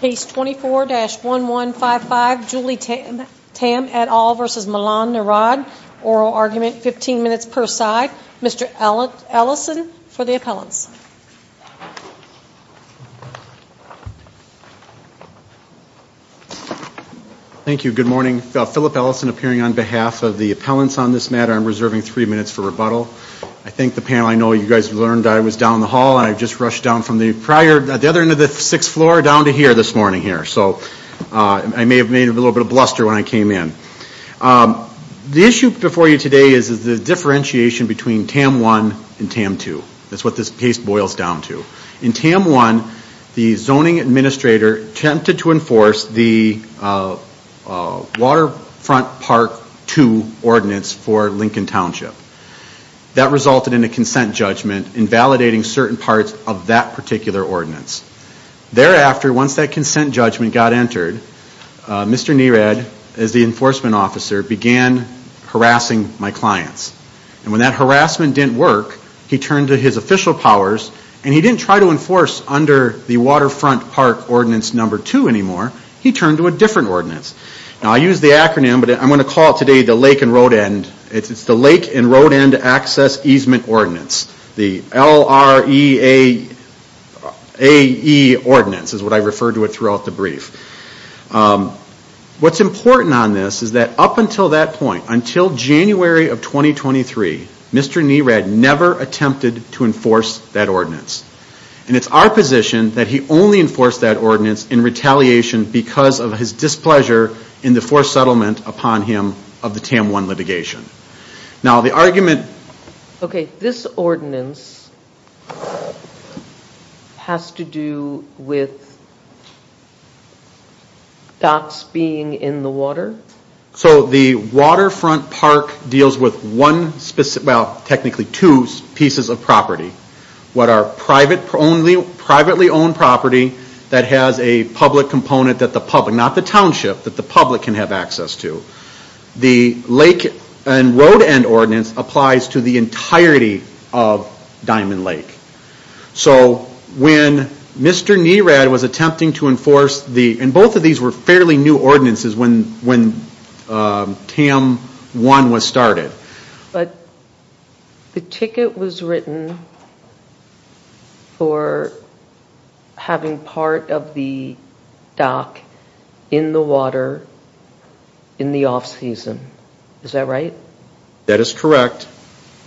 Case 24-1155, Julie Tamm et al. v. Milan Nerad. Oral argument, 15 minutes per side. Mr. Ellison for the appellants. Thank you. Good morning. Philip Ellison appearing on behalf of the appellants on this matter. I'm reserving three minutes for rebuttal. I think the panel, I know you guys learned I was down the hall and I just rushed down from the prior, the other end of the sixth floor down to here this morning here. So I may have made a little bit of a bluster when I came in. The issue before you today is the differentiation between Tamm 1 and Tamm 2. That's what this case boils down to. In Tamm 1, the zoning administrator attempted to enforce the Waterfront Park 2 ordinance for Lincoln Township. That resulted in a consent judgment invalidating certain parts of that particular ordinance. Thereafter, once that consent judgment got entered, Mr. Nerad, as the enforcement officer, began harassing my clients. And when that harassment didn't work, he turned to his official powers and he didn't try to enforce under the Waterfront Park ordinance number 2 anymore. He turned to a different ordinance. Now, I use the acronym, but I'm going to call it today the Lake and Road End Access Easement Ordinance. The L-R-E-A-E ordinance is what I refer to it throughout the brief. What's important on this is that up until that point, until January of 2023, Mr. Nerad never attempted to enforce that ordinance. And it's our position that he only enforced that ordinance in retaliation because of his displeasure in the forced settlement upon him of the Tamm 1 litigation. Now, the argument... Okay, this ordinance has to do with docks being in the water? So the Waterfront Park deals with one specific, well, technically two pieces of property. What are privately owned property that has a public component that the public, not the township, that the public can have access to? The Lake and Road End Ordinance applies to the entirety of Diamond Lake. So when Mr. Nerad was attempting to enforce the, and both of these were fairly new ordinances when Tamm 1 was started. But the ticket was written for having part of the dock in the water in the off-season. Is that right? That is correct,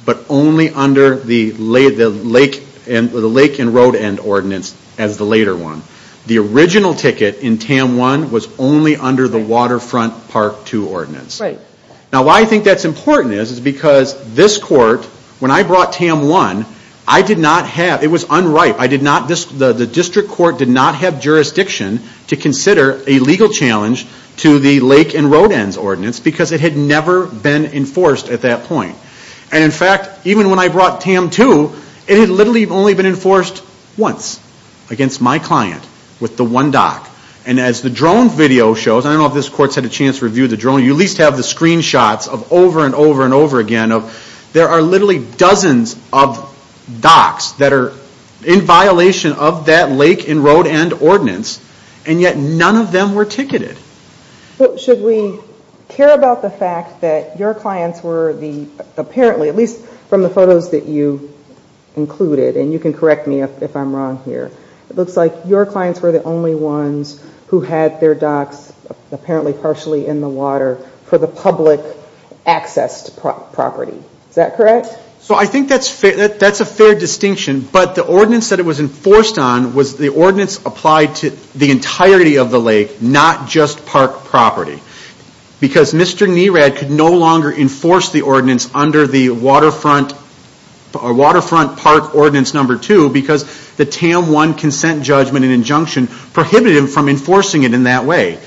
but only under the Lake and Road End Ordinance as the later one. The original ticket in Tamm 1 was only under the Waterfront Park 2 Ordinance. Right. Now, why I think that's important is because this court, when I brought Tamm 1, I did not have, it was unripe, the district court did not have jurisdiction to consider a legal challenge to the Lake and Road End Ordinance because it had never been enforced at that point. And in fact, even when I brought Tamm 2, it had literally only been enforced once against my client with the one dock. And as the drone video shows, I don't know if this court's had a chance to review the drone, you at least have the screenshots of over and over and over again of, there are literally dozens of docks that are in violation of that Lake and Road End Ordinance, and yet none of them were ticketed. Should we care about the fact that your clients were the, apparently, at least from the photos that you included, and you can correct me if I'm wrong here, it looks like your clients were the only ones who had their docks apparently partially in the water for the public-accessed property. Is that correct? So I think that's a fair distinction, but the ordinance that it was enforced on was the ordinance applied to the entirety of the Lake, not just park property. Because Mr. Nerad could no longer enforce the ordinance under the Waterfront Park Ordinance No. 2 because the TAM 1 Consent Judgment and Injunction prohibited him from enforcing it in that way.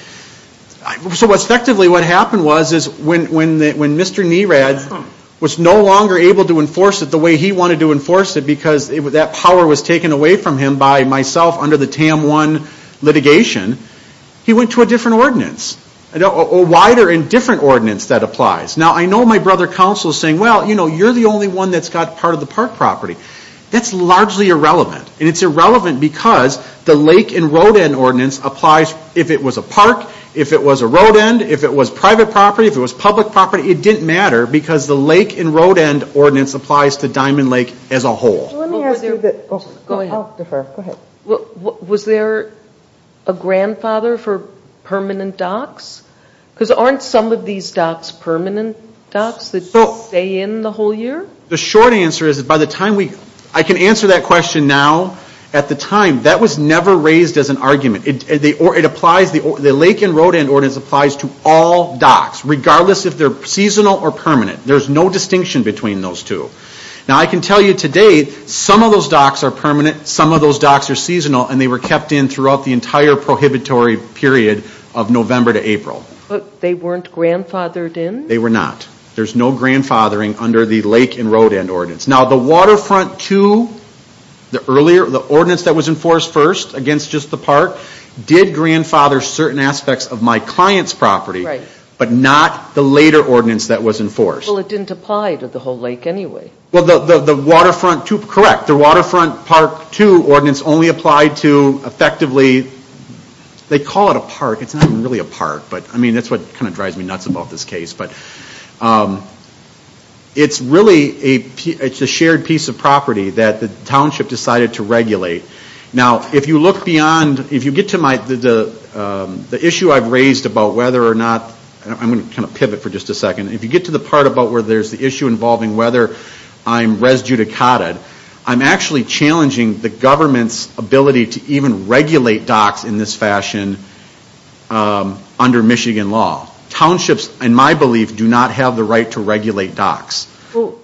So effectively what happened was when Mr. Nerad was no longer able to enforce it the way he wanted to enforce it because that power was taken away from him by myself under the TAM 1 litigation, he went to a different ordinance, a wider and different ordinance that applies. Now I know my brother counsel is saying, well, you know, you're the only one that's got part of the park property. That's largely irrelevant, and it's irrelevant because the Lake and Road End Ordinance applies if it was a park, if it was a road end, if it was private property, if it was public property. It didn't matter because the Lake and Road End Ordinance applies to Diamond Lake as a whole. Was there a grandfather for permanent docks? Because aren't some of these docks permanent docks that stay in the whole year? The short answer is that by the time we, I can answer that question now, at the time that was never raised as an argument. It applies, the Lake and Road End Ordinance applies to all docks regardless if they're seasonal or permanent. There's no distinction between those two. Now I can tell you today some of those docks are permanent, some of those docks are seasonal, and they were kept in throughout the entire prohibitory period of November to April. But they weren't grandfathered in? They were not. There's no grandfathering under the Lake and Road End Ordinance. Now the Waterfront II, the earlier, the ordinance that was enforced first against just the park, did grandfather certain aspects of my client's property, but not the later ordinance that was enforced. Well it didn't apply to the whole lake anyway. Well the Waterfront II, correct, the Waterfront Park II ordinance only applied to effectively, they call it a park, it's not really a park, but I mean that's what kind of drives me nuts about this case. But it's really a shared piece of property that the township decided to regulate. Now if you look beyond, if you get to my, the issue I've raised about whether or not, I'm going to kind of pivot for just a second, if you get to the part about where there's the issue involving whether I'm res judicataed, I'm actually challenging the government's ability to even regulate docks in this fashion under Michigan law. Townships, in my belief, do not have the right to regulate docks. Well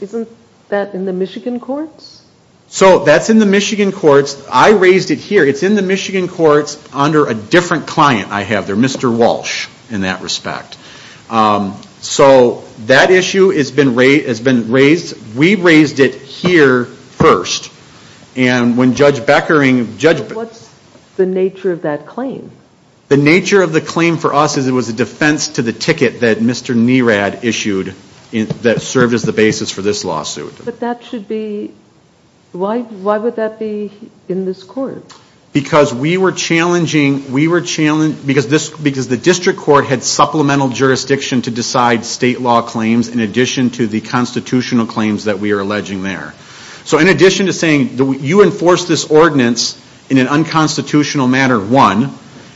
isn't that in the Michigan courts? So that's in the Michigan courts. I raised it here. It's in the Michigan courts under a different client I have there, Mr. Walsh in that respect. So that issue has been raised, we raised it here first. And when Judge Beckering, Judge Beckering... What's the nature of that claim? The nature of the claim for us is it was a defense to the ticket that Mr. Nerad issued that served as the basis for this lawsuit. But that should be, why would that be in this court? Because we were challenging, we were, because the district court had supplemental jurisdiction to decide state law claims in addition to the constitutional claims that we are alleging there. So in addition to saying you enforce this ordinance in an unconstitutional manner, one,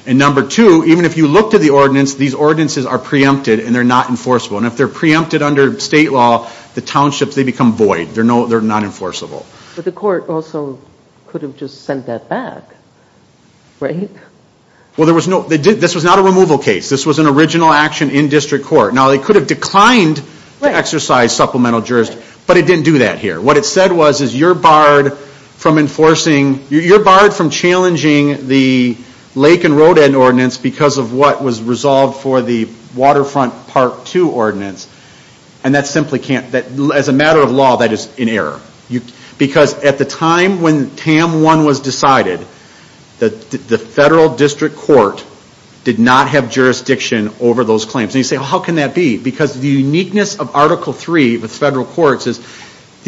and number two, even if you looked at the ordinance, these ordinances are preempted and they're not enforceable. And if they're preempted under state law, the townships, they become void. They're not enforceable. But the court also could have just sent that back, right? Well there was no, this was not a removal case. This was an original action in district court. Now they could have declined to exercise supplemental jurisdiction, but it didn't do that here. What it said was, is you're barred from enforcing, you're barred from challenging the Lake and Road End ordinance because of what was resolved for the Waterfront Part 2 ordinance. And that simply can't, as a matter of law, that is in error. Because at the time when TAM 1 was decided, the federal district court did not have jurisdiction over those claims. And you say, well how can that be? Because the uniqueness of Article 3 with federal courts is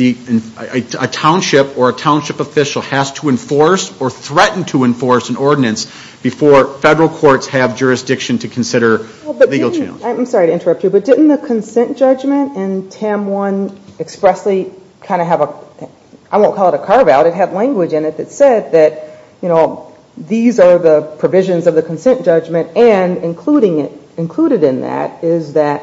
a township or a township official has to enforce or threaten to enforce an ordinance before federal courts have jurisdiction to consider legal challenge. I'm sorry to interrupt you, but didn't the consent judgment in TAM 1 expressly kind of have a, I won't call it a carve out, it had language in it that said that, you know, these are the provisions of the consent judgment and included in that is that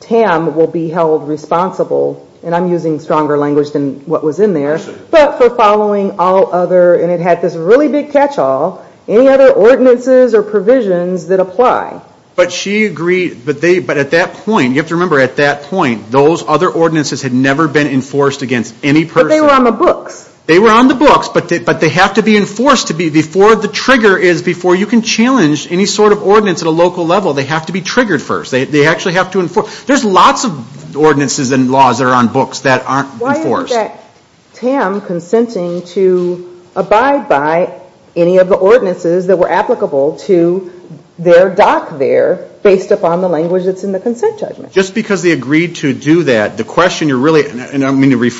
TAM will be held responsible, and I'm using stronger language than what was in there, but for following all other, and it had this really big catchall, any other ordinances or provisions that apply. But she agreed, but at that point, you have to remember at that point, those other ordinances had never been enforced against any person. But they were on the books. They were on the books, but they have to be enforced to be, before the trigger is before you can challenge any sort of ordinance at a local level, they have to be triggered first. They actually have to enforce. There's lots of ordinances and laws that are on books that aren't enforced. Why isn't that TAM consenting to abide by any of the ordinances that were applicable to their doc there based upon the language that's in the consent judgment? Just because they agreed to do that, the question you're really, and I don't mean to be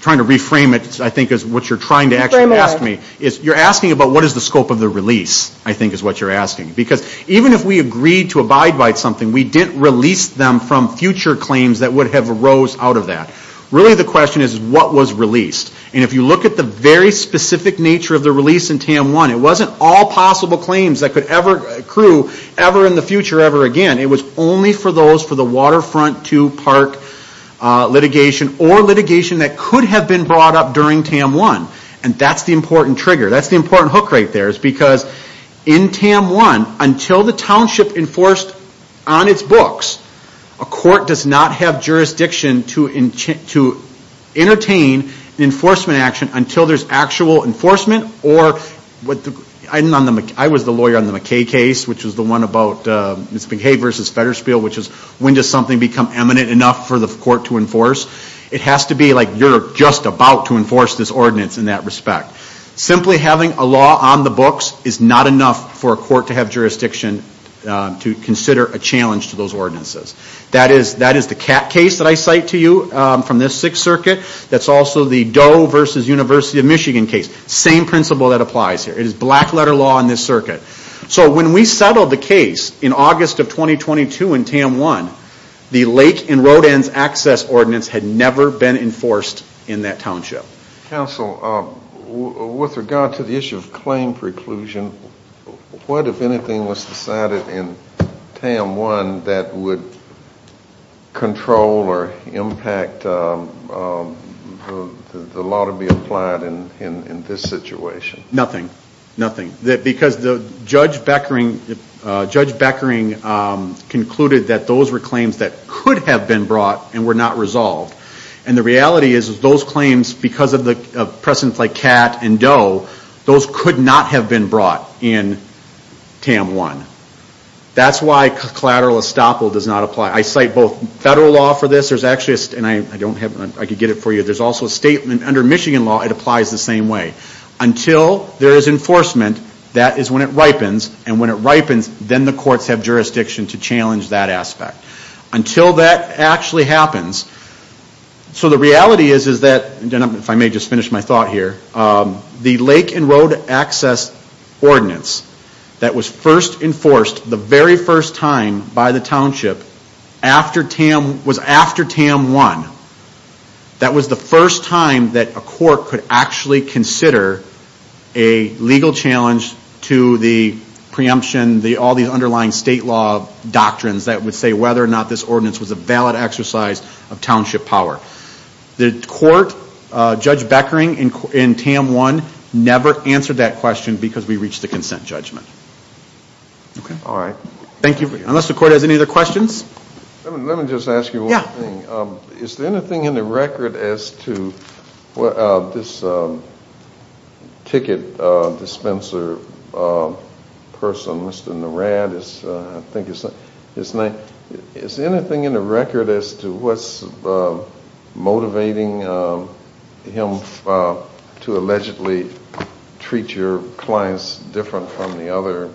trying to reframe it, I think is what you're trying to actually ask me, is you're asking about what is the scope of the release, I think is what you're asking. Because even if we agreed to abide by something, we didn't release them from future claims that would have arose out of that. Really the question is what was released, and if you look at the very specific nature of the release in TAM 1, it wasn't all possible claims that could ever accrue ever in the future, ever again. It was only for those for the waterfront to park litigation or litigation that could have been brought up during TAM 1, and that's the important trigger. That's the important hook right there, is because in TAM 1, until the township enforced on its books, a court does not have jurisdiction to entertain an enforcement action until there's actual enforcement or, I was the lawyer on the McKay case, which was the one about Ms. McKay versus Fetterspiel, which is when does something become eminent enough for the court to enforce? It has to be like you're just about to enforce this ordinance in that respect. Simply having a law on the books is not enough for a court to have jurisdiction to consider a challenge to those ordinances. That is the Catt case that I cite to you from the 6th Circuit, that's also the Doe versus University of Michigan case. Same principle that applies here. It is black letter law in this circuit. So when we settled the case in August of 2022 in TAM 1, the lake and road ends access ordinance had never been enforced in that township. Counsel, with regard to the issue of claim preclusion, what, if anything, was decided in TAM 1 that would control or impact the law to be enforced? Nothing. Nothing. Because Judge Beckering concluded that those were claims that could have been brought and were not resolved. And the reality is those claims, because of precedents like Catt and Doe, those could not have been brought in TAM 1. That's why collateral estoppel does not apply. I cite both federal law for this, there's actually, and I could get it for you, there's also a statement under Michigan law, it applies the same way. Until there is enforcement, that is when it ripens, and when it ripens, then the courts have jurisdiction to challenge that aspect. Until that actually happens. So the reality is that, if I may just finish my thought here, the lake and road access ordinance that was first enforced the very first time by the township was after TAM 1. That was the first time that a court could actually consider a legal challenge to the preemption, all these underlying state law doctrines that would say whether or not this ordinance was a valid exercise of township power. The court, Judge Beckering in TAM 1, never answered that question because we reached the consent judgment. Okay. All right. Thank you. Unless the court has any other questions? Let me just ask you one thing. Is there anything in the record as to this ticket dispenser person, Mr. Narad, I think his name, is there anything in the record as to what's motivating him to allegedly treat your clients different from the other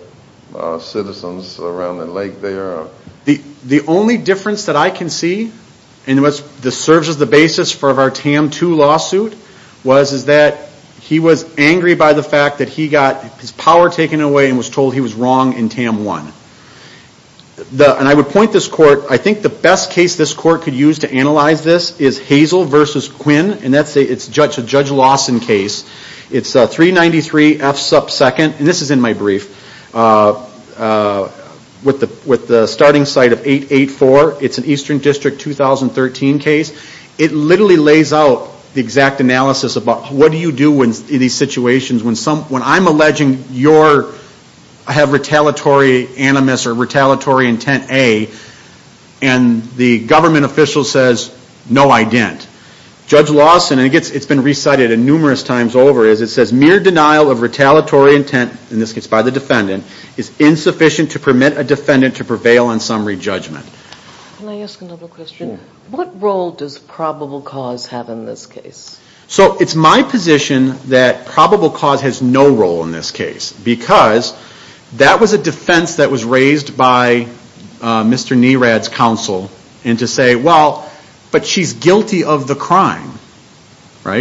citizens around the lake there? The only difference that I can see, and this serves as the basis for our TAM 2 lawsuit, was that he was angry by the fact that he got his power taken away and was told he was wrong in TAM 1. And I would point this court, I think the best case this court could use to analyze this is Hazel versus Quinn, and that's a Judge Lawson case. It's 393 F sub 2nd, and this is in my brief, with the starting site of 884. It's an Eastern District 2013 case. It literally lays out the exact analysis about what do you do in these situations when I'm alleging your, I have retaliatory animus or retaliatory intent A, and the government official says no I didn't. Judge Lawson, and it's been recited numerous times over, it says mere denial of retaliatory intent, in this case by the defendant, is insufficient to permit a defendant to prevail on summary judgment. Can I ask another question? What role does probable cause have in this case? So it's my position that probable cause has no role in this case, because that was a defense that was raised by Mr. Nerad's counsel, and to say, well, but she's guilty of the crime.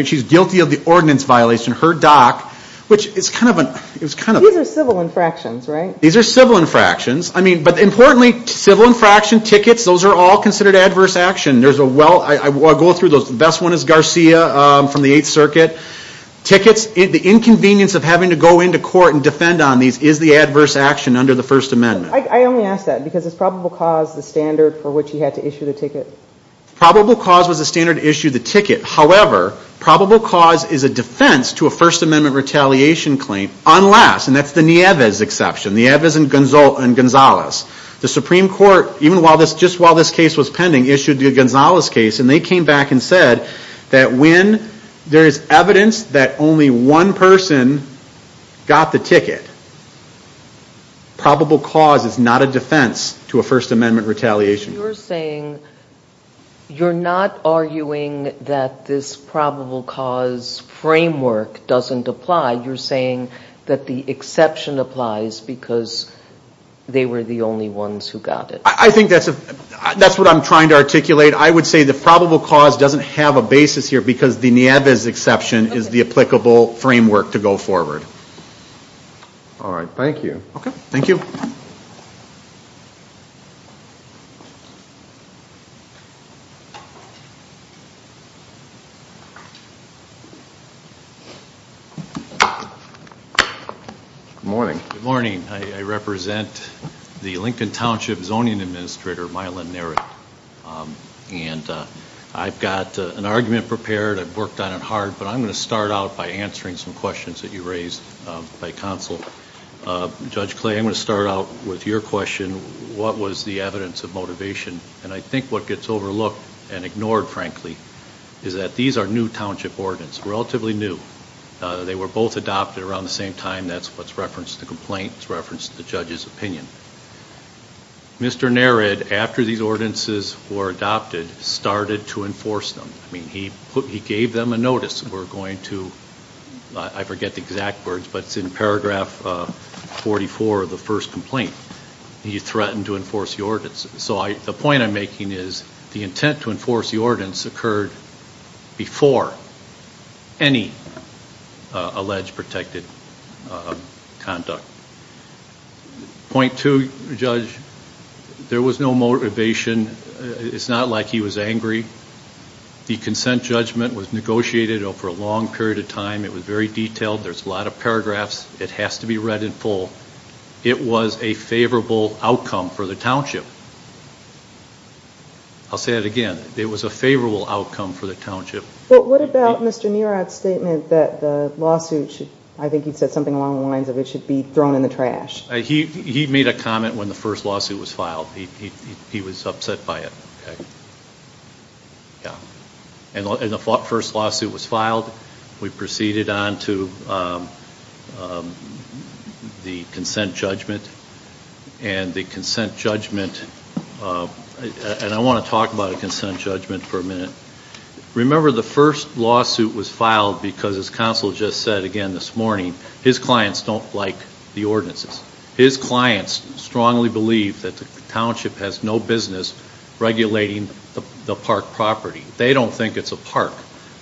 She's guilty of the ordinance violation, her dock, which is kind of a... These are civil infractions, right? These are civil infractions, but importantly, civil infraction, tickets, those are all considered adverse action. There's a well, I go through those, the best one is Garcia from the 8th Circuit, tickets, the inconvenience of having to go into court and defend on these is the adverse action under the First Amendment. I only ask that, because is probable cause the standard for which he had to issue the Probable cause was the standard to issue the ticket, however, probable cause is a defense to a First Amendment retaliation claim, unless, and that's the Nieves exception, Nieves and Gonzalez, the Supreme Court, even while this, just while this case was pending, issued the Gonzalez case, and they came back and said that when there is evidence that only one person got the ticket, probable cause is not a defense to a First Amendment retaliation. You're saying, you're not arguing that this probable cause framework doesn't apply, you're saying that the exception applies because they were the only ones who got it. I think that's what I'm trying to articulate. I would say the probable cause doesn't have a basis here because the Nieves exception is the applicable framework to go forward. All right, thank you. Okay. Thank you. Good morning. Good morning. I represent the Lincoln Township Zoning Administrator, Mylon Nerritt, and I've got an argument prepared, I've worked on it hard, but I'm going to start out by answering some questions that you raised by counsel. Judge Clay, I'm going to start out with your question, what was the evidence of motivation? And I think what gets overlooked and ignored, frankly, is that these are new township ordinance, relatively new. They were both adopted around the same time. That's what's referenced in the complaint, it's referenced in the judge's opinion. Mr. Nerritt, after these ordinances were adopted, started to enforce them. I mean, he gave them a notice, we're going to, I forget the exact words, but it's in paragraph 44 of the first complaint, he threatened to enforce the ordinance. So the point I'm making is the intent to enforce the ordinance occurred before any alleged protected conduct. Point two, Judge, there was no motivation. It's not like he was angry. The consent judgment was negotiated over a long period of time, it was very detailed, there's a lot of paragraphs, it has to be read in full. It was a favorable outcome for the township. I'll say that again, it was a favorable outcome for the township. But what about Mr. Nerritt's statement that the lawsuit should, I think he said something along the lines of it should be thrown in the trash? He made a comment when the first lawsuit was filed. He was upset by it. And the first lawsuit was filed, we proceeded on to the consent judgment, and the consent judgment, and I want to talk about the consent judgment for a minute. Remember the first lawsuit was filed because as counsel just said again this morning, his clients don't like the ordinances. His clients strongly believe that the township has no business regulating the park property. They don't think it's a park.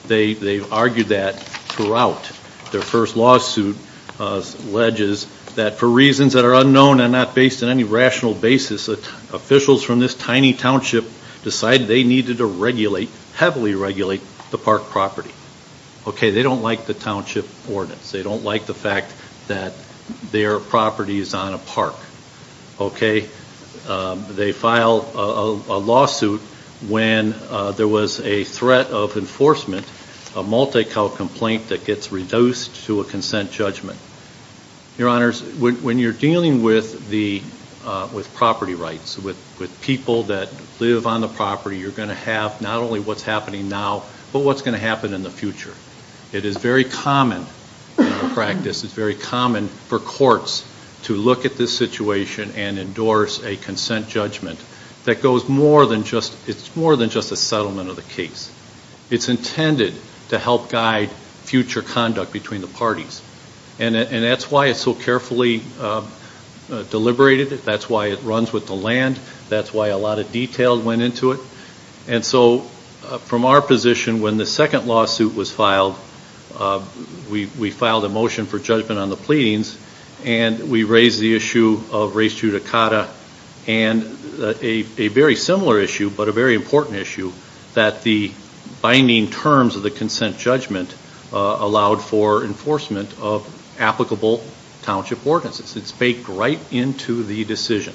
They've argued that throughout their first lawsuit, alleges that for reasons that are unknown and not based on any rational basis, officials from this tiny township decided they needed to regulate, heavily regulate, the park property. Okay, they don't like the township ordinance. They don't like the fact that their property is on a park. Okay, they filed a lawsuit when there was a threat of enforcement, a multi-cow complaint that gets reduced to a consent judgment. Your honors, when you're dealing with property rights, with people that live on the property, you're going to have not only what's happening now, but what's going to happen in the future. It is very common in practice, it's very common for courts to look at this situation and endorse a consent judgment that goes more than just, it's more than just a settlement of the case. It's intended to help guide future conduct between the parties. And that's why it's so carefully deliberated. That's why it runs with the land. That's why a lot of detail went into it. And so, from our position, when the second lawsuit was filed, we filed a motion for judgment on the pleadings, and we raised the issue of race judicata, and a very similar issue, but a very important issue, that the binding terms of the consent judgment allowed for enforcement of applicable township ordinances. It's baked right into the decision.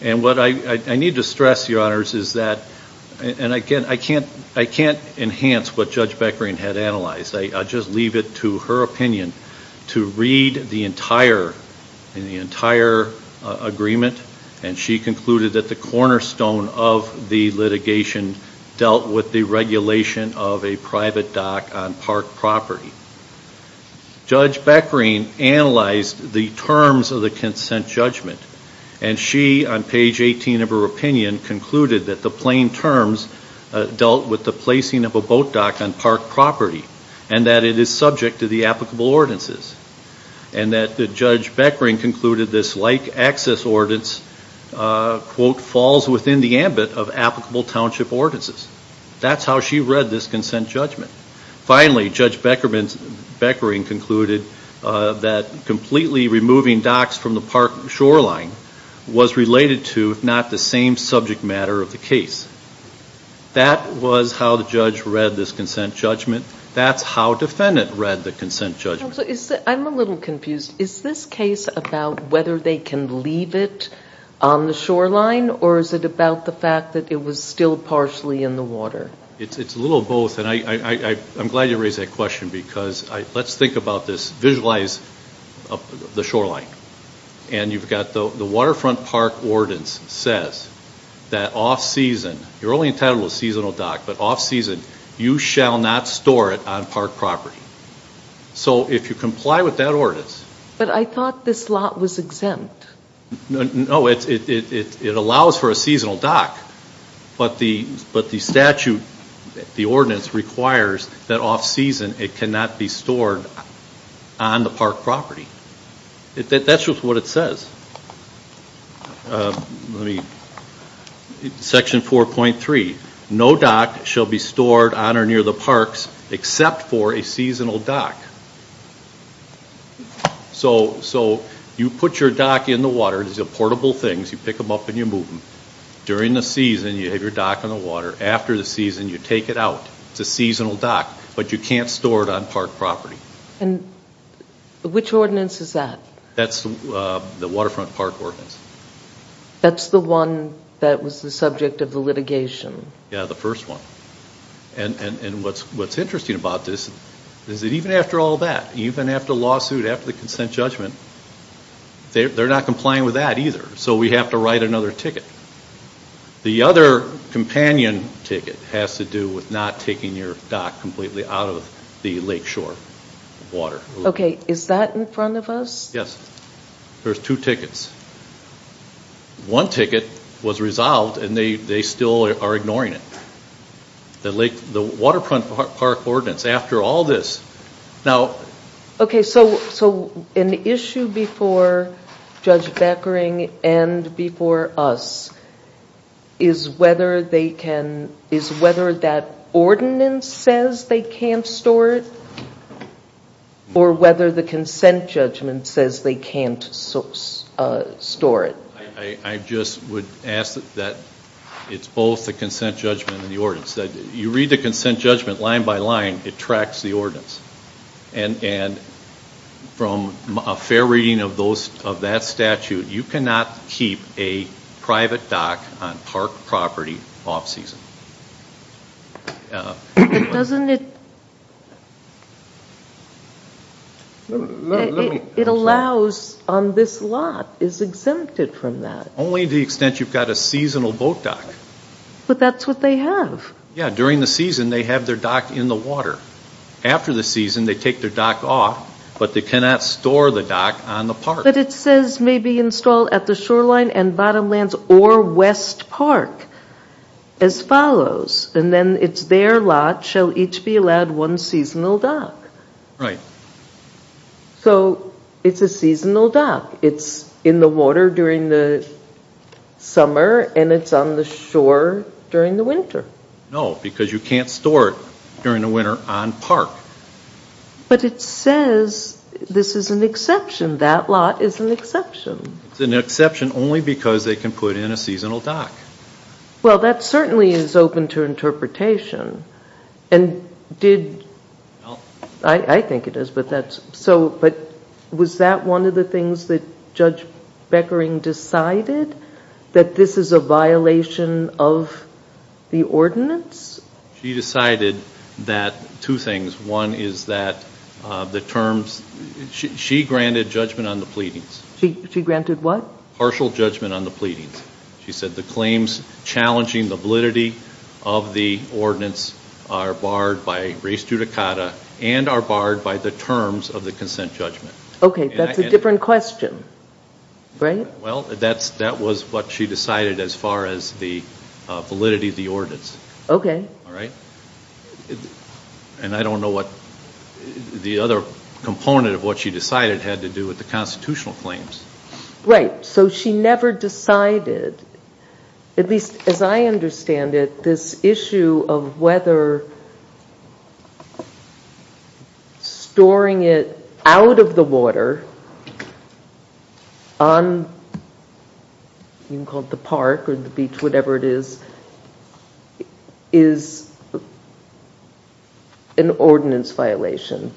And what I need to stress, your honors, is that, and I can't enhance what Judge Beckering had analyzed. I'll just leave it to her opinion to read the entire agreement, and she concluded that the cornerstone of the litigation dealt with the regulation of a private dock on park property. Judge Beckering analyzed the terms of the consent judgment, and she, on page 18 of her opinion, concluded that the plain terms dealt with the placing of a boat dock on park property, and that it is subject to the applicable ordinances. And that Judge Beckering concluded this like access ordinance, quote, falls within the ambit of applicable township ordinances. That's how she read this consent judgment. Finally, Judge Beckering concluded that completely removing docks from the park shoreline was related to, if not the same subject matter of the case. That was how the judge read this consent judgment. That's how defendant read the consent judgment. I'm a little confused. Is this case about whether they can leave it on the shoreline, or is it about the fact that it was still partially in the water? It's a little of both, and I'm glad you raised that question, because let's think about this. Visualize the shoreline, and you've got the waterfront park ordinance says that off-season, you're only entitled to a seasonal dock, but off-season, you shall not store it on park property. So, if you comply with that ordinance. But I thought this lot was exempt. No, it allows for a seasonal dock, but the statute, the ordinance requires that off-season, it cannot be stored on the park property. That's just what it says. Section 4.3, no dock shall be stored on or near the parks except for a seasonal dock. So, you put your dock in the water, these are portable things, you pick them up and you move them. During the season, you have your dock in the water. After the season, you take it out. It's a seasonal dock, but you can't store it on park property. Which ordinance is that? That's the waterfront park ordinance. That's the one that was the subject of the litigation? Yeah, the first one. And what's interesting about this is that even after all that, even after the lawsuit, after the consent judgment, they're not complying with that either. So we have to write another ticket. The other companion ticket has to do with not taking your dock completely out of the lakeshore water. Okay, is that in front of us? Yes. There's two tickets. One ticket was resolved and they still are ignoring it. The waterfront park ordinance, after all this, now... Okay, so an issue before Judge Beckering and before us is whether that ordinance says they can't store it or whether the consent judgment says they can't store it. I just would ask that it's both the consent judgment and the ordinance. You read the consent judgment line by line, it tracks the ordinance. And from a fair reading of that statute, you cannot keep a private dock on park property off-season. But doesn't it... It allows on this lot, is exempted from that. Only to the extent you've got a seasonal boat dock. But that's what they have. Yeah, during the season they have their dock in the water. After the season they take their dock off, but they cannot store the dock on the park. But it says maybe installed at the shoreline and bottomlands or West Park as follows. And then it's their lot shall each be allowed one seasonal dock. So it's a seasonal dock, it's in the water during the summer and it's on the shore during the winter. No, because you can't store it during the winter on park. But it says this is an exception. That lot is an exception. It's an exception only because they can put in a seasonal dock. Well that certainly is open to interpretation. And did... I think it is, but that's... Was that one of the things that Judge Beckering decided? That this is a violation of the ordinance? She decided that two things. One is that the terms... She granted judgment on the pleadings. She granted what? Partial judgment on the pleadings. She said the claims challenging the validity of the ordinance are barred by res judicata and are barred by the terms of the consent judgment. Okay, that's a different question. Right? Well, that was what she decided as far as the validity of the ordinance. Okay. Alright? And I don't know what the other component of what she decided had to do with the constitutional claims. So she never decided, at least as I understand it, this issue of whether storing it out of the water on, you can call it the park or the beach, whatever it is, is an ordinance violation.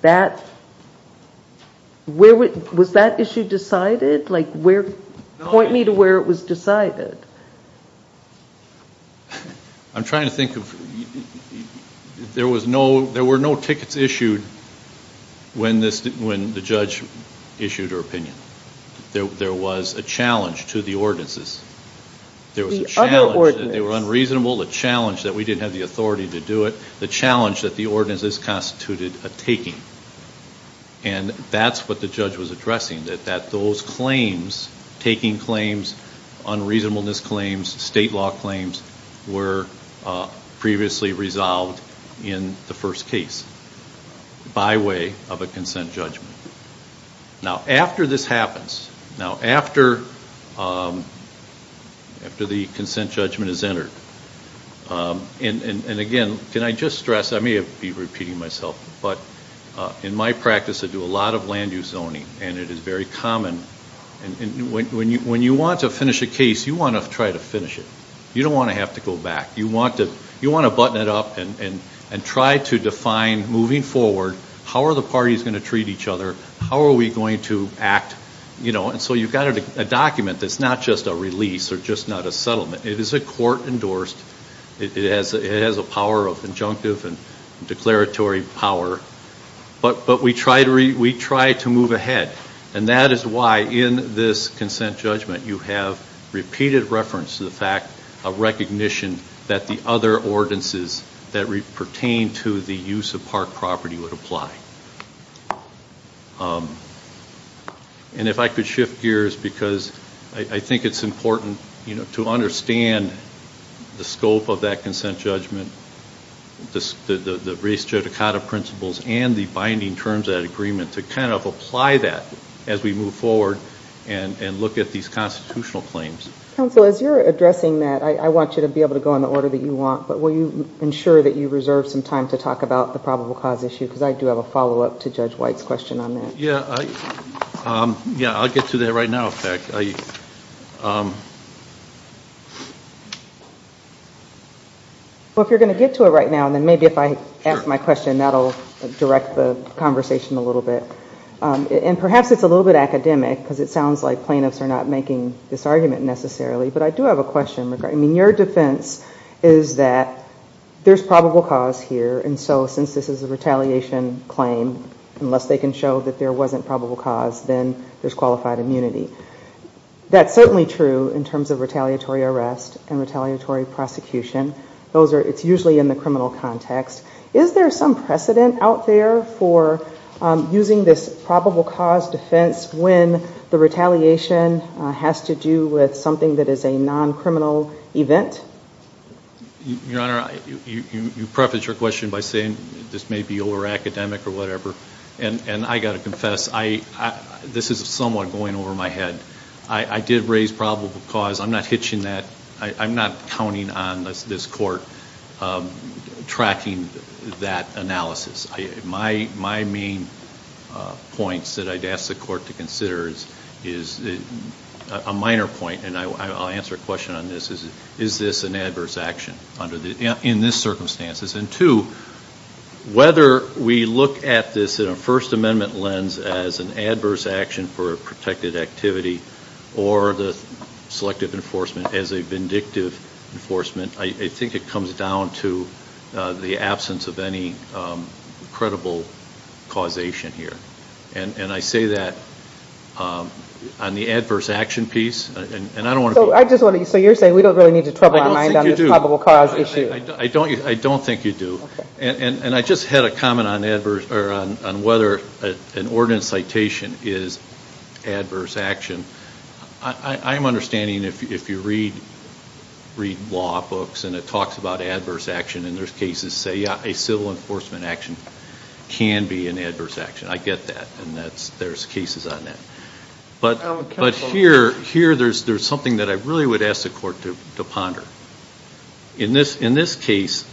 Was that issue decided? Point me to where it was decided. I'm trying to think of... There were no tickets issued when the judge issued her opinion. There was a challenge to the ordinances. There was a challenge that they were unreasonable, a challenge that we didn't have the authority to do it, the challenge that the ordinances constituted a taking. And that's what the judge was addressing, that those claims, taking claims, unreasonableness claims, state law claims, were previously resolved in the first case by way of a consent judgment. Now, after this happens, now after the consent judgment is entered, and again, can I just address, I may be repeating myself, but in my practice I do a lot of land use zoning and it is very common, when you want to finish a case, you want to try to finish it. You don't want to have to go back. You want to button it up and try to define moving forward, how are the parties going to treat each other, how are we going to act, you know, and so you've got a document that's not just a release or just not a settlement. It is a court endorsed. It has a power of injunctive and declaratory power, but we try to move ahead. And that is why in this consent judgment you have repeated reference to the fact of recognition that the other ordinances that pertain to the use of park property would apply. And if I could shift gears, because I think it's important to understand the scope of that consent judgment, the race judicata principles and the binding terms of that agreement to kind of apply that as we move forward and look at these constitutional claims. Counsel, as you're addressing that, I want you to be able to go in the order that you want, but will you ensure that you reserve some time to talk about the probable cause issue? Because I do have a follow-up to Judge White's question on that. I'll get to that right now, in fact. Well, if you're going to get to it right now, then maybe if I ask my question, that'll direct the conversation a little bit. And perhaps it's a little bit academic, because it sounds like plaintiffs are not making this argument necessarily, but I do have a question regarding, I mean, your defense is that there's probable cause here, and so since this is a retaliation claim, unless they can show that there wasn't probable cause, then there's qualified immunity. That's certainly true in terms of retaliatory arrest and retaliatory prosecution. It's usually in the criminal context. Is there some precedent out there for using this probable cause defense when the retaliation has to do with something that is a non-criminal event? Your Honor, you prefaced your question by saying this may be over-academic or whatever, and I've got to confess, this is somewhat going over my head. I did raise probable cause. I'm not hitching that, I'm not counting on this Court tracking that analysis. My main point that I'd ask the Court to consider is a minor point, and I'll answer a question on this, is this an adverse action in this circumstances, and two, whether we look at this in a First Amendment lens as an adverse action for a protected activity or the selective enforcement as a vindictive enforcement, I think it comes down to the absence of any credible causation here, and I say that on the adverse action piece, and I don't want So you're saying we don't really need to trouble our mind on this probable cause issue. I don't think you do, and I just had a comment on whether an ordinance citation is adverse action. I'm understanding if you read law books and it talks about adverse action, and there's cases that say, yeah, a civil enforcement action can be an adverse action. I get that, and there's cases on that. But here, there's something that I really would ask the Court to ponder. In this case,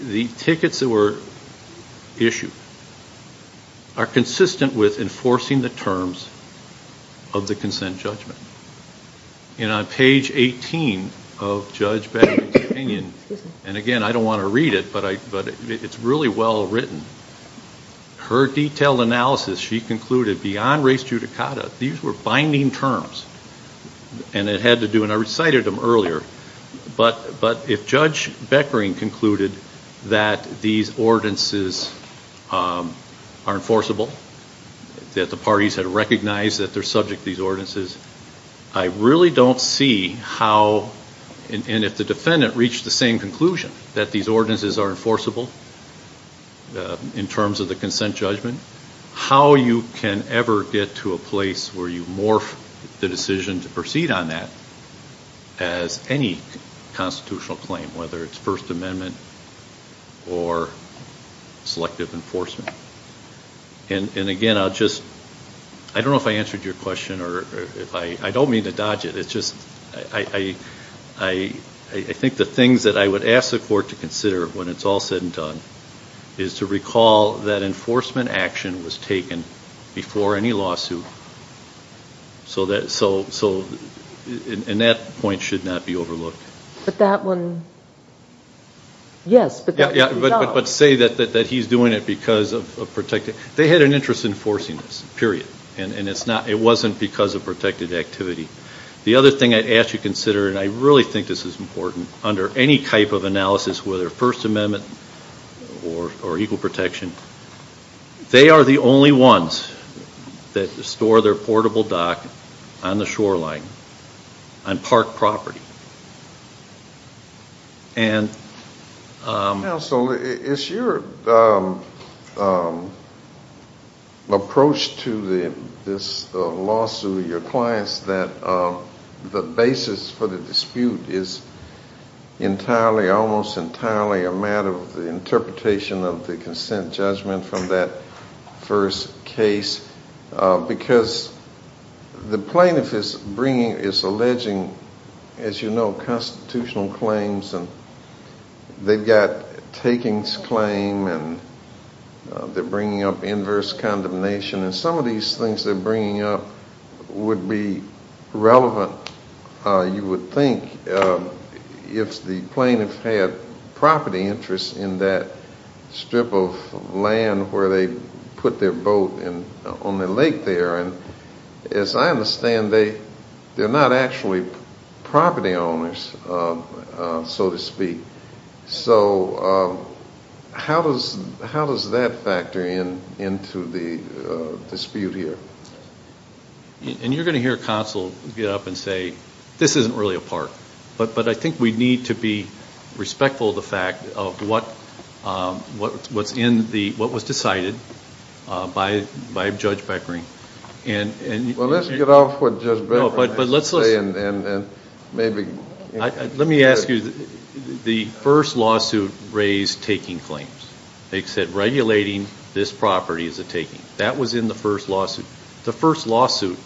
the tickets that were issued are consistent with enforcing the terms of the consent judgment, and on page 18 of Judge Bannon's opinion, and again, I don't want to read it, but it's really well written. Her detailed analysis, she concluded beyond race judicata, these were binding terms, and it had to do, and I recited them earlier, but if Judge Beckering concluded that these ordinances are enforceable, that the parties had recognized that they're subject to these ordinances, I really don't see how, and if the defendant reached the same conclusion that these ordinances are enforceable, in terms of the consent judgment, how you can ever get to a place where you morph the decision to proceed on that as any constitutional claim, whether it's First Amendment or selective enforcement. And again, I'll just, I don't know if I answered your question, or if I, I don't mean to dodge it, it's just, I think the things that I would ask the court to consider when it's all said and done, is to recall that enforcement action was taken before any lawsuit, so that, so, and that point should not be overlooked. But that one, yes, but that's a job. But say that he's doing it because of protected, they had an interest in enforcing this, period, and it's not, it wasn't because of protected activity. The other thing I'd ask you to consider, and I really think this is important, under any type of analysis, whether First Amendment or equal protection, they are the only ones that store their portable dock on the shoreline, on park property. Counsel, it's your approach to this lawsuit, your clients, that the basis for the dispute is entirely, almost entirely, a matter of the interpretation of the consent judgment from that first case, because the plaintiff is bringing, is alleging, as you know, constitutional claims, and they've got takings claim, and they're bringing up inverse condemnation, and some of these things they're bringing up would be relevant, you would think, if the plaintiff had property interest in that strip of land where they put their boat on the lake there, and as I understand, they're not actually property owners, so to speak. So how does that factor into the dispute here? And you're going to hear counsel get up and say, this isn't really a park, but I think we need to be respectful of the fact of what's in the, what was decided by Judge Beckering. Well, let's get off what Judge Beckering has to say and maybe... Let me ask you, the first lawsuit raised taking claims, they said regulating this property is a taking. That was in the first lawsuit. The first lawsuit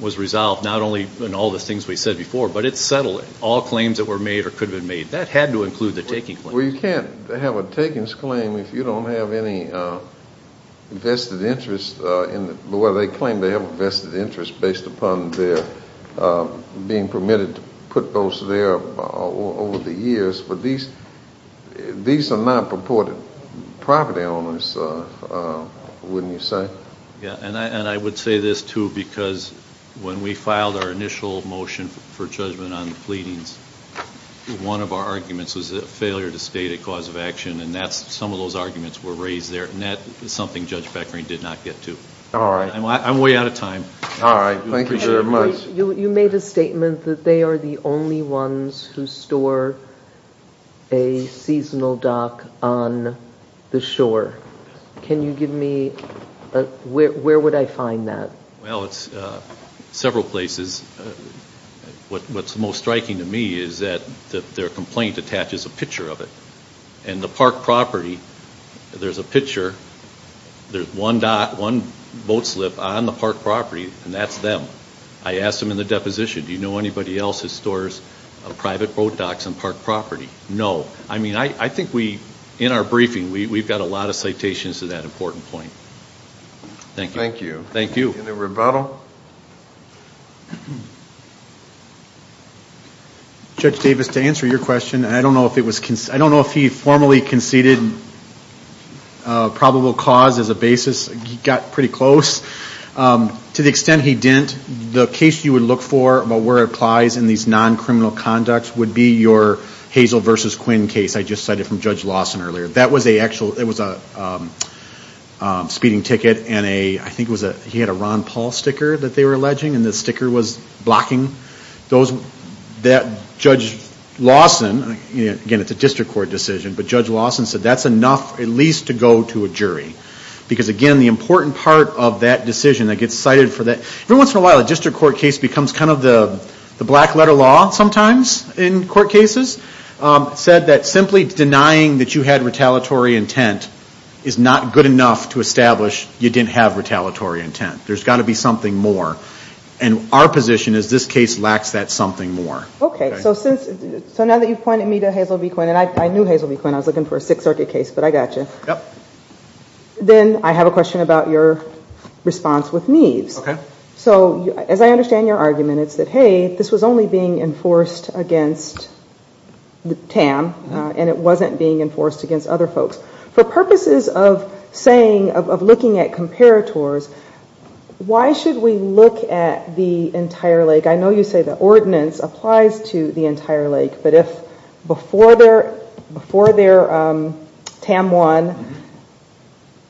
was resolved not only in all the things we said before, but it settled all claims that were made or could have been made. That had to include the taking claims. Well, you can't have a takings claim if you don't have any vested interest in the, whether they claim they have a vested interest based upon their being permitted to put boats there over the years, but these are not purported property owners, wouldn't you say? And I would say this too because when we filed our initial motion for judgment on the pleadings, one of our arguments was a failure to state a cause of action, and that's, some of those arguments were raised there, and that is something Judge Beckering did not get to. All right. I'm way out of time. All right. Thank you very much. You made a statement that they are the only ones who store a seasonal dock on the shore. Can you give me, where would I find that? Well, it's several places. What's most striking to me is that their complaint attaches a picture of it, and the park property, there's a picture, there's one dock, one boat slip on the park property, and that's them. I asked them in the deposition, do you know anybody else that stores private boat docks on park property? No. I mean, I think we, in our briefing, we've got a lot of citations to that important point. Thank you. Thank you. Any rebuttal? Judge Davis, to answer your question, I don't know if he formally conceded probable cause as a basis. He got pretty close. To the extent he didn't, the case you would look for about where it applies in these non-criminal conducts would be your Hazel versus Quinn case I just cited from Judge Lawson earlier. That was a actual, it was a speeding ticket and a, I think it was a, he had a Ron Paul sticker that they were alleging, and the sticker was blocking those. That Judge Lawson, again, it's a district court decision, but Judge Lawson said that's least to go to a jury because, again, the important part of that decision that gets cited for that, every once in a while a district court case becomes kind of the black letter law sometimes in court cases, said that simply denying that you had retaliatory intent is not good enough to establish you didn't have retaliatory intent. There's got to be something more, and our position is this case lacks that something more. Okay, so since, so now that you've pointed me to Hazel v. Quinn, and I knew Hazel v. Quinn, I was looking for a Sixth Circuit case, but I got you, then I have a question about your response with Neves. So as I understand your argument, it's that, hey, this was only being enforced against Tam, and it wasn't being enforced against other folks. For purposes of saying, of looking at comparators, why should we look at the entire lake? I know you say the ordinance applies to the entire lake, but if before their Tam One,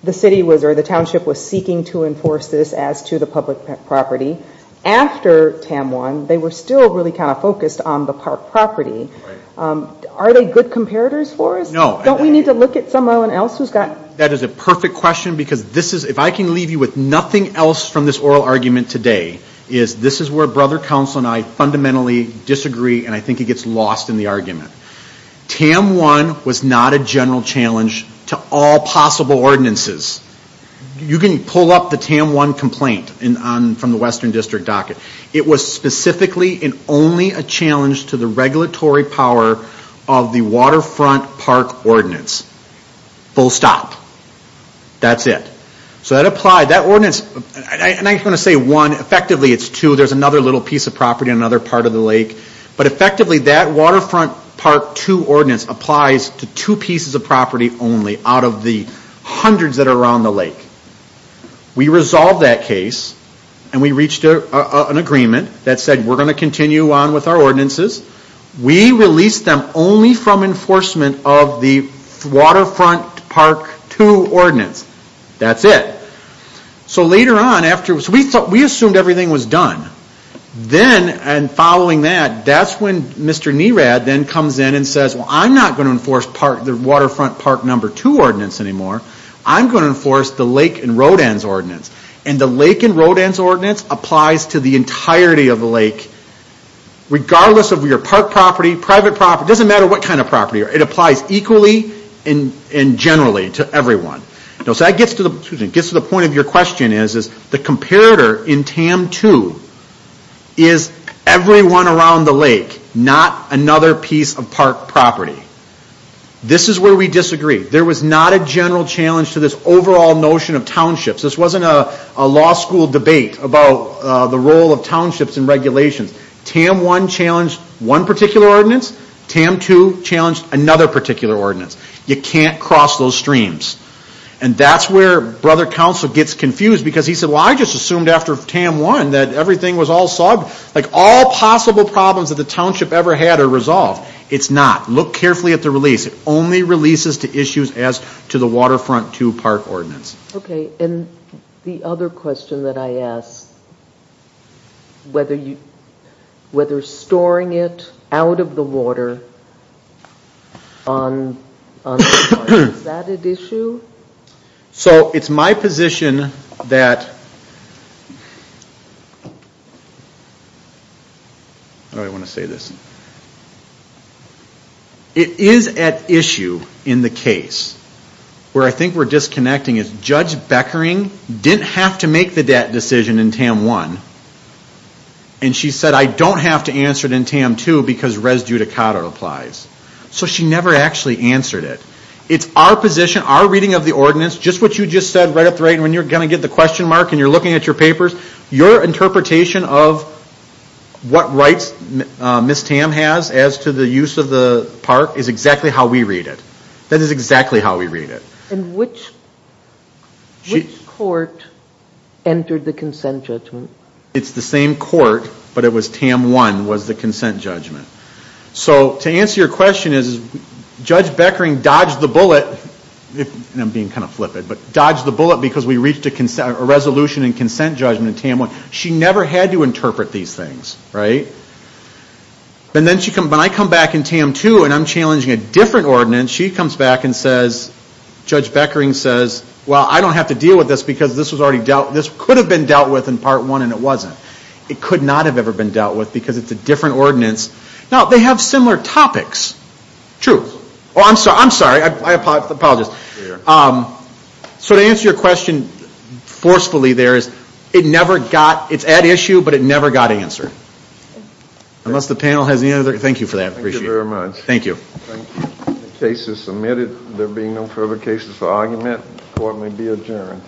the city was or the township was seeking to enforce this as to the public property, after Tam One, they were still really kind of focused on the park property, are they good comparators for us? No. Don't we need to look at someone else who's got? That is a perfect question because this is, if I can leave you with nothing else from this oral argument today, is this is where Brother Counsel and I fundamentally disagree, and I think it gets lost in the argument. Tam One was not a general challenge to all possible ordinances. You can pull up the Tam One complaint from the Western District docket. It was specifically and only a challenge to the regulatory power of the Waterfront Park Ordinance, full stop. That's it. So that applied. That ordinance, and I'm not going to say one, effectively it's two, there's another little piece of property on another part of the lake, but effectively that Waterfront Park Two Ordinance applies to two pieces of property only out of the hundreds that are around the lake. We resolved that case and we reached an agreement that said we're going to continue on with our ordinances. We released them only from enforcement of the Waterfront Park Two Ordinance. That's it. So later on, we assumed everything was done, then, and following that, that's when Mr. Nerad then comes in and says, well, I'm not going to enforce the Waterfront Park Number Two Ordinance anymore. I'm going to enforce the Lake and Rodan's Ordinance, and the Lake and Rodan's Ordinance applies to the entirety of the lake, regardless of your park property, private property, doesn't matter what kind of property, it applies equally and generally to everyone. So that gets to the point of your question is, the comparator in TAM Two is everyone around the lake, not another piece of park property. This is where we disagree. There was not a general challenge to this overall notion of townships. This wasn't a law school debate about the role of townships in regulations. TAM One challenged one particular ordinance, TAM Two challenged another particular ordinance. You can't cross those streams. And that's where Brother Counsel gets confused because he said, well, I just assumed after TAM One that everything was all solved, like all possible problems that the township ever had are resolved. It's not. Look carefully at the release. It only releases to issues as to the Waterfront Two Park Ordinance. Okay, and the other question that I ask, whether storing it out of the water on the water, is that at issue? So it's my position that, how do I want to say this, it is at issue in the case where I think we're disconnecting is Judge Beckering didn't have to make that decision in TAM One. And she said, I don't have to answer it in TAM Two because res judicata applies. So she never actually answered it. It's our position, our reading of the ordinance, just what you just said right up the right when you're going to get the question mark and you're looking at your papers, your interpretation of what rights Ms. Tam has as to the use of the park is exactly how we read it. That is exactly how we read it. And which court entered the consent judgment? It's the same court, but it was TAM One was the consent judgment. So to answer your question is, Judge Beckering dodged the bullet, and I'm being kind of flippant, but dodged the bullet because we reached a resolution and consent judgment in TAM One. She never had to interpret these things, right? And then when I come back in TAM Two and I'm challenging a different ordinance, she comes back and says, Judge Beckering says, well, I don't have to deal with this because this was already dealt, this could have been dealt with in Part One and it wasn't. It could not have ever been dealt with because it's a different ordinance. Now, they have similar topics. True. Oh, I'm sorry. I'm sorry. I apologize. So to answer your question forcefully there is, it never got, it's at issue, but it never got answered. Unless the panel has any other, thank you for that. I appreciate it. Thank you very much. Thank you. Thank you. Thank you. The case is submitted. There being no further cases for argument, court may be adjourned.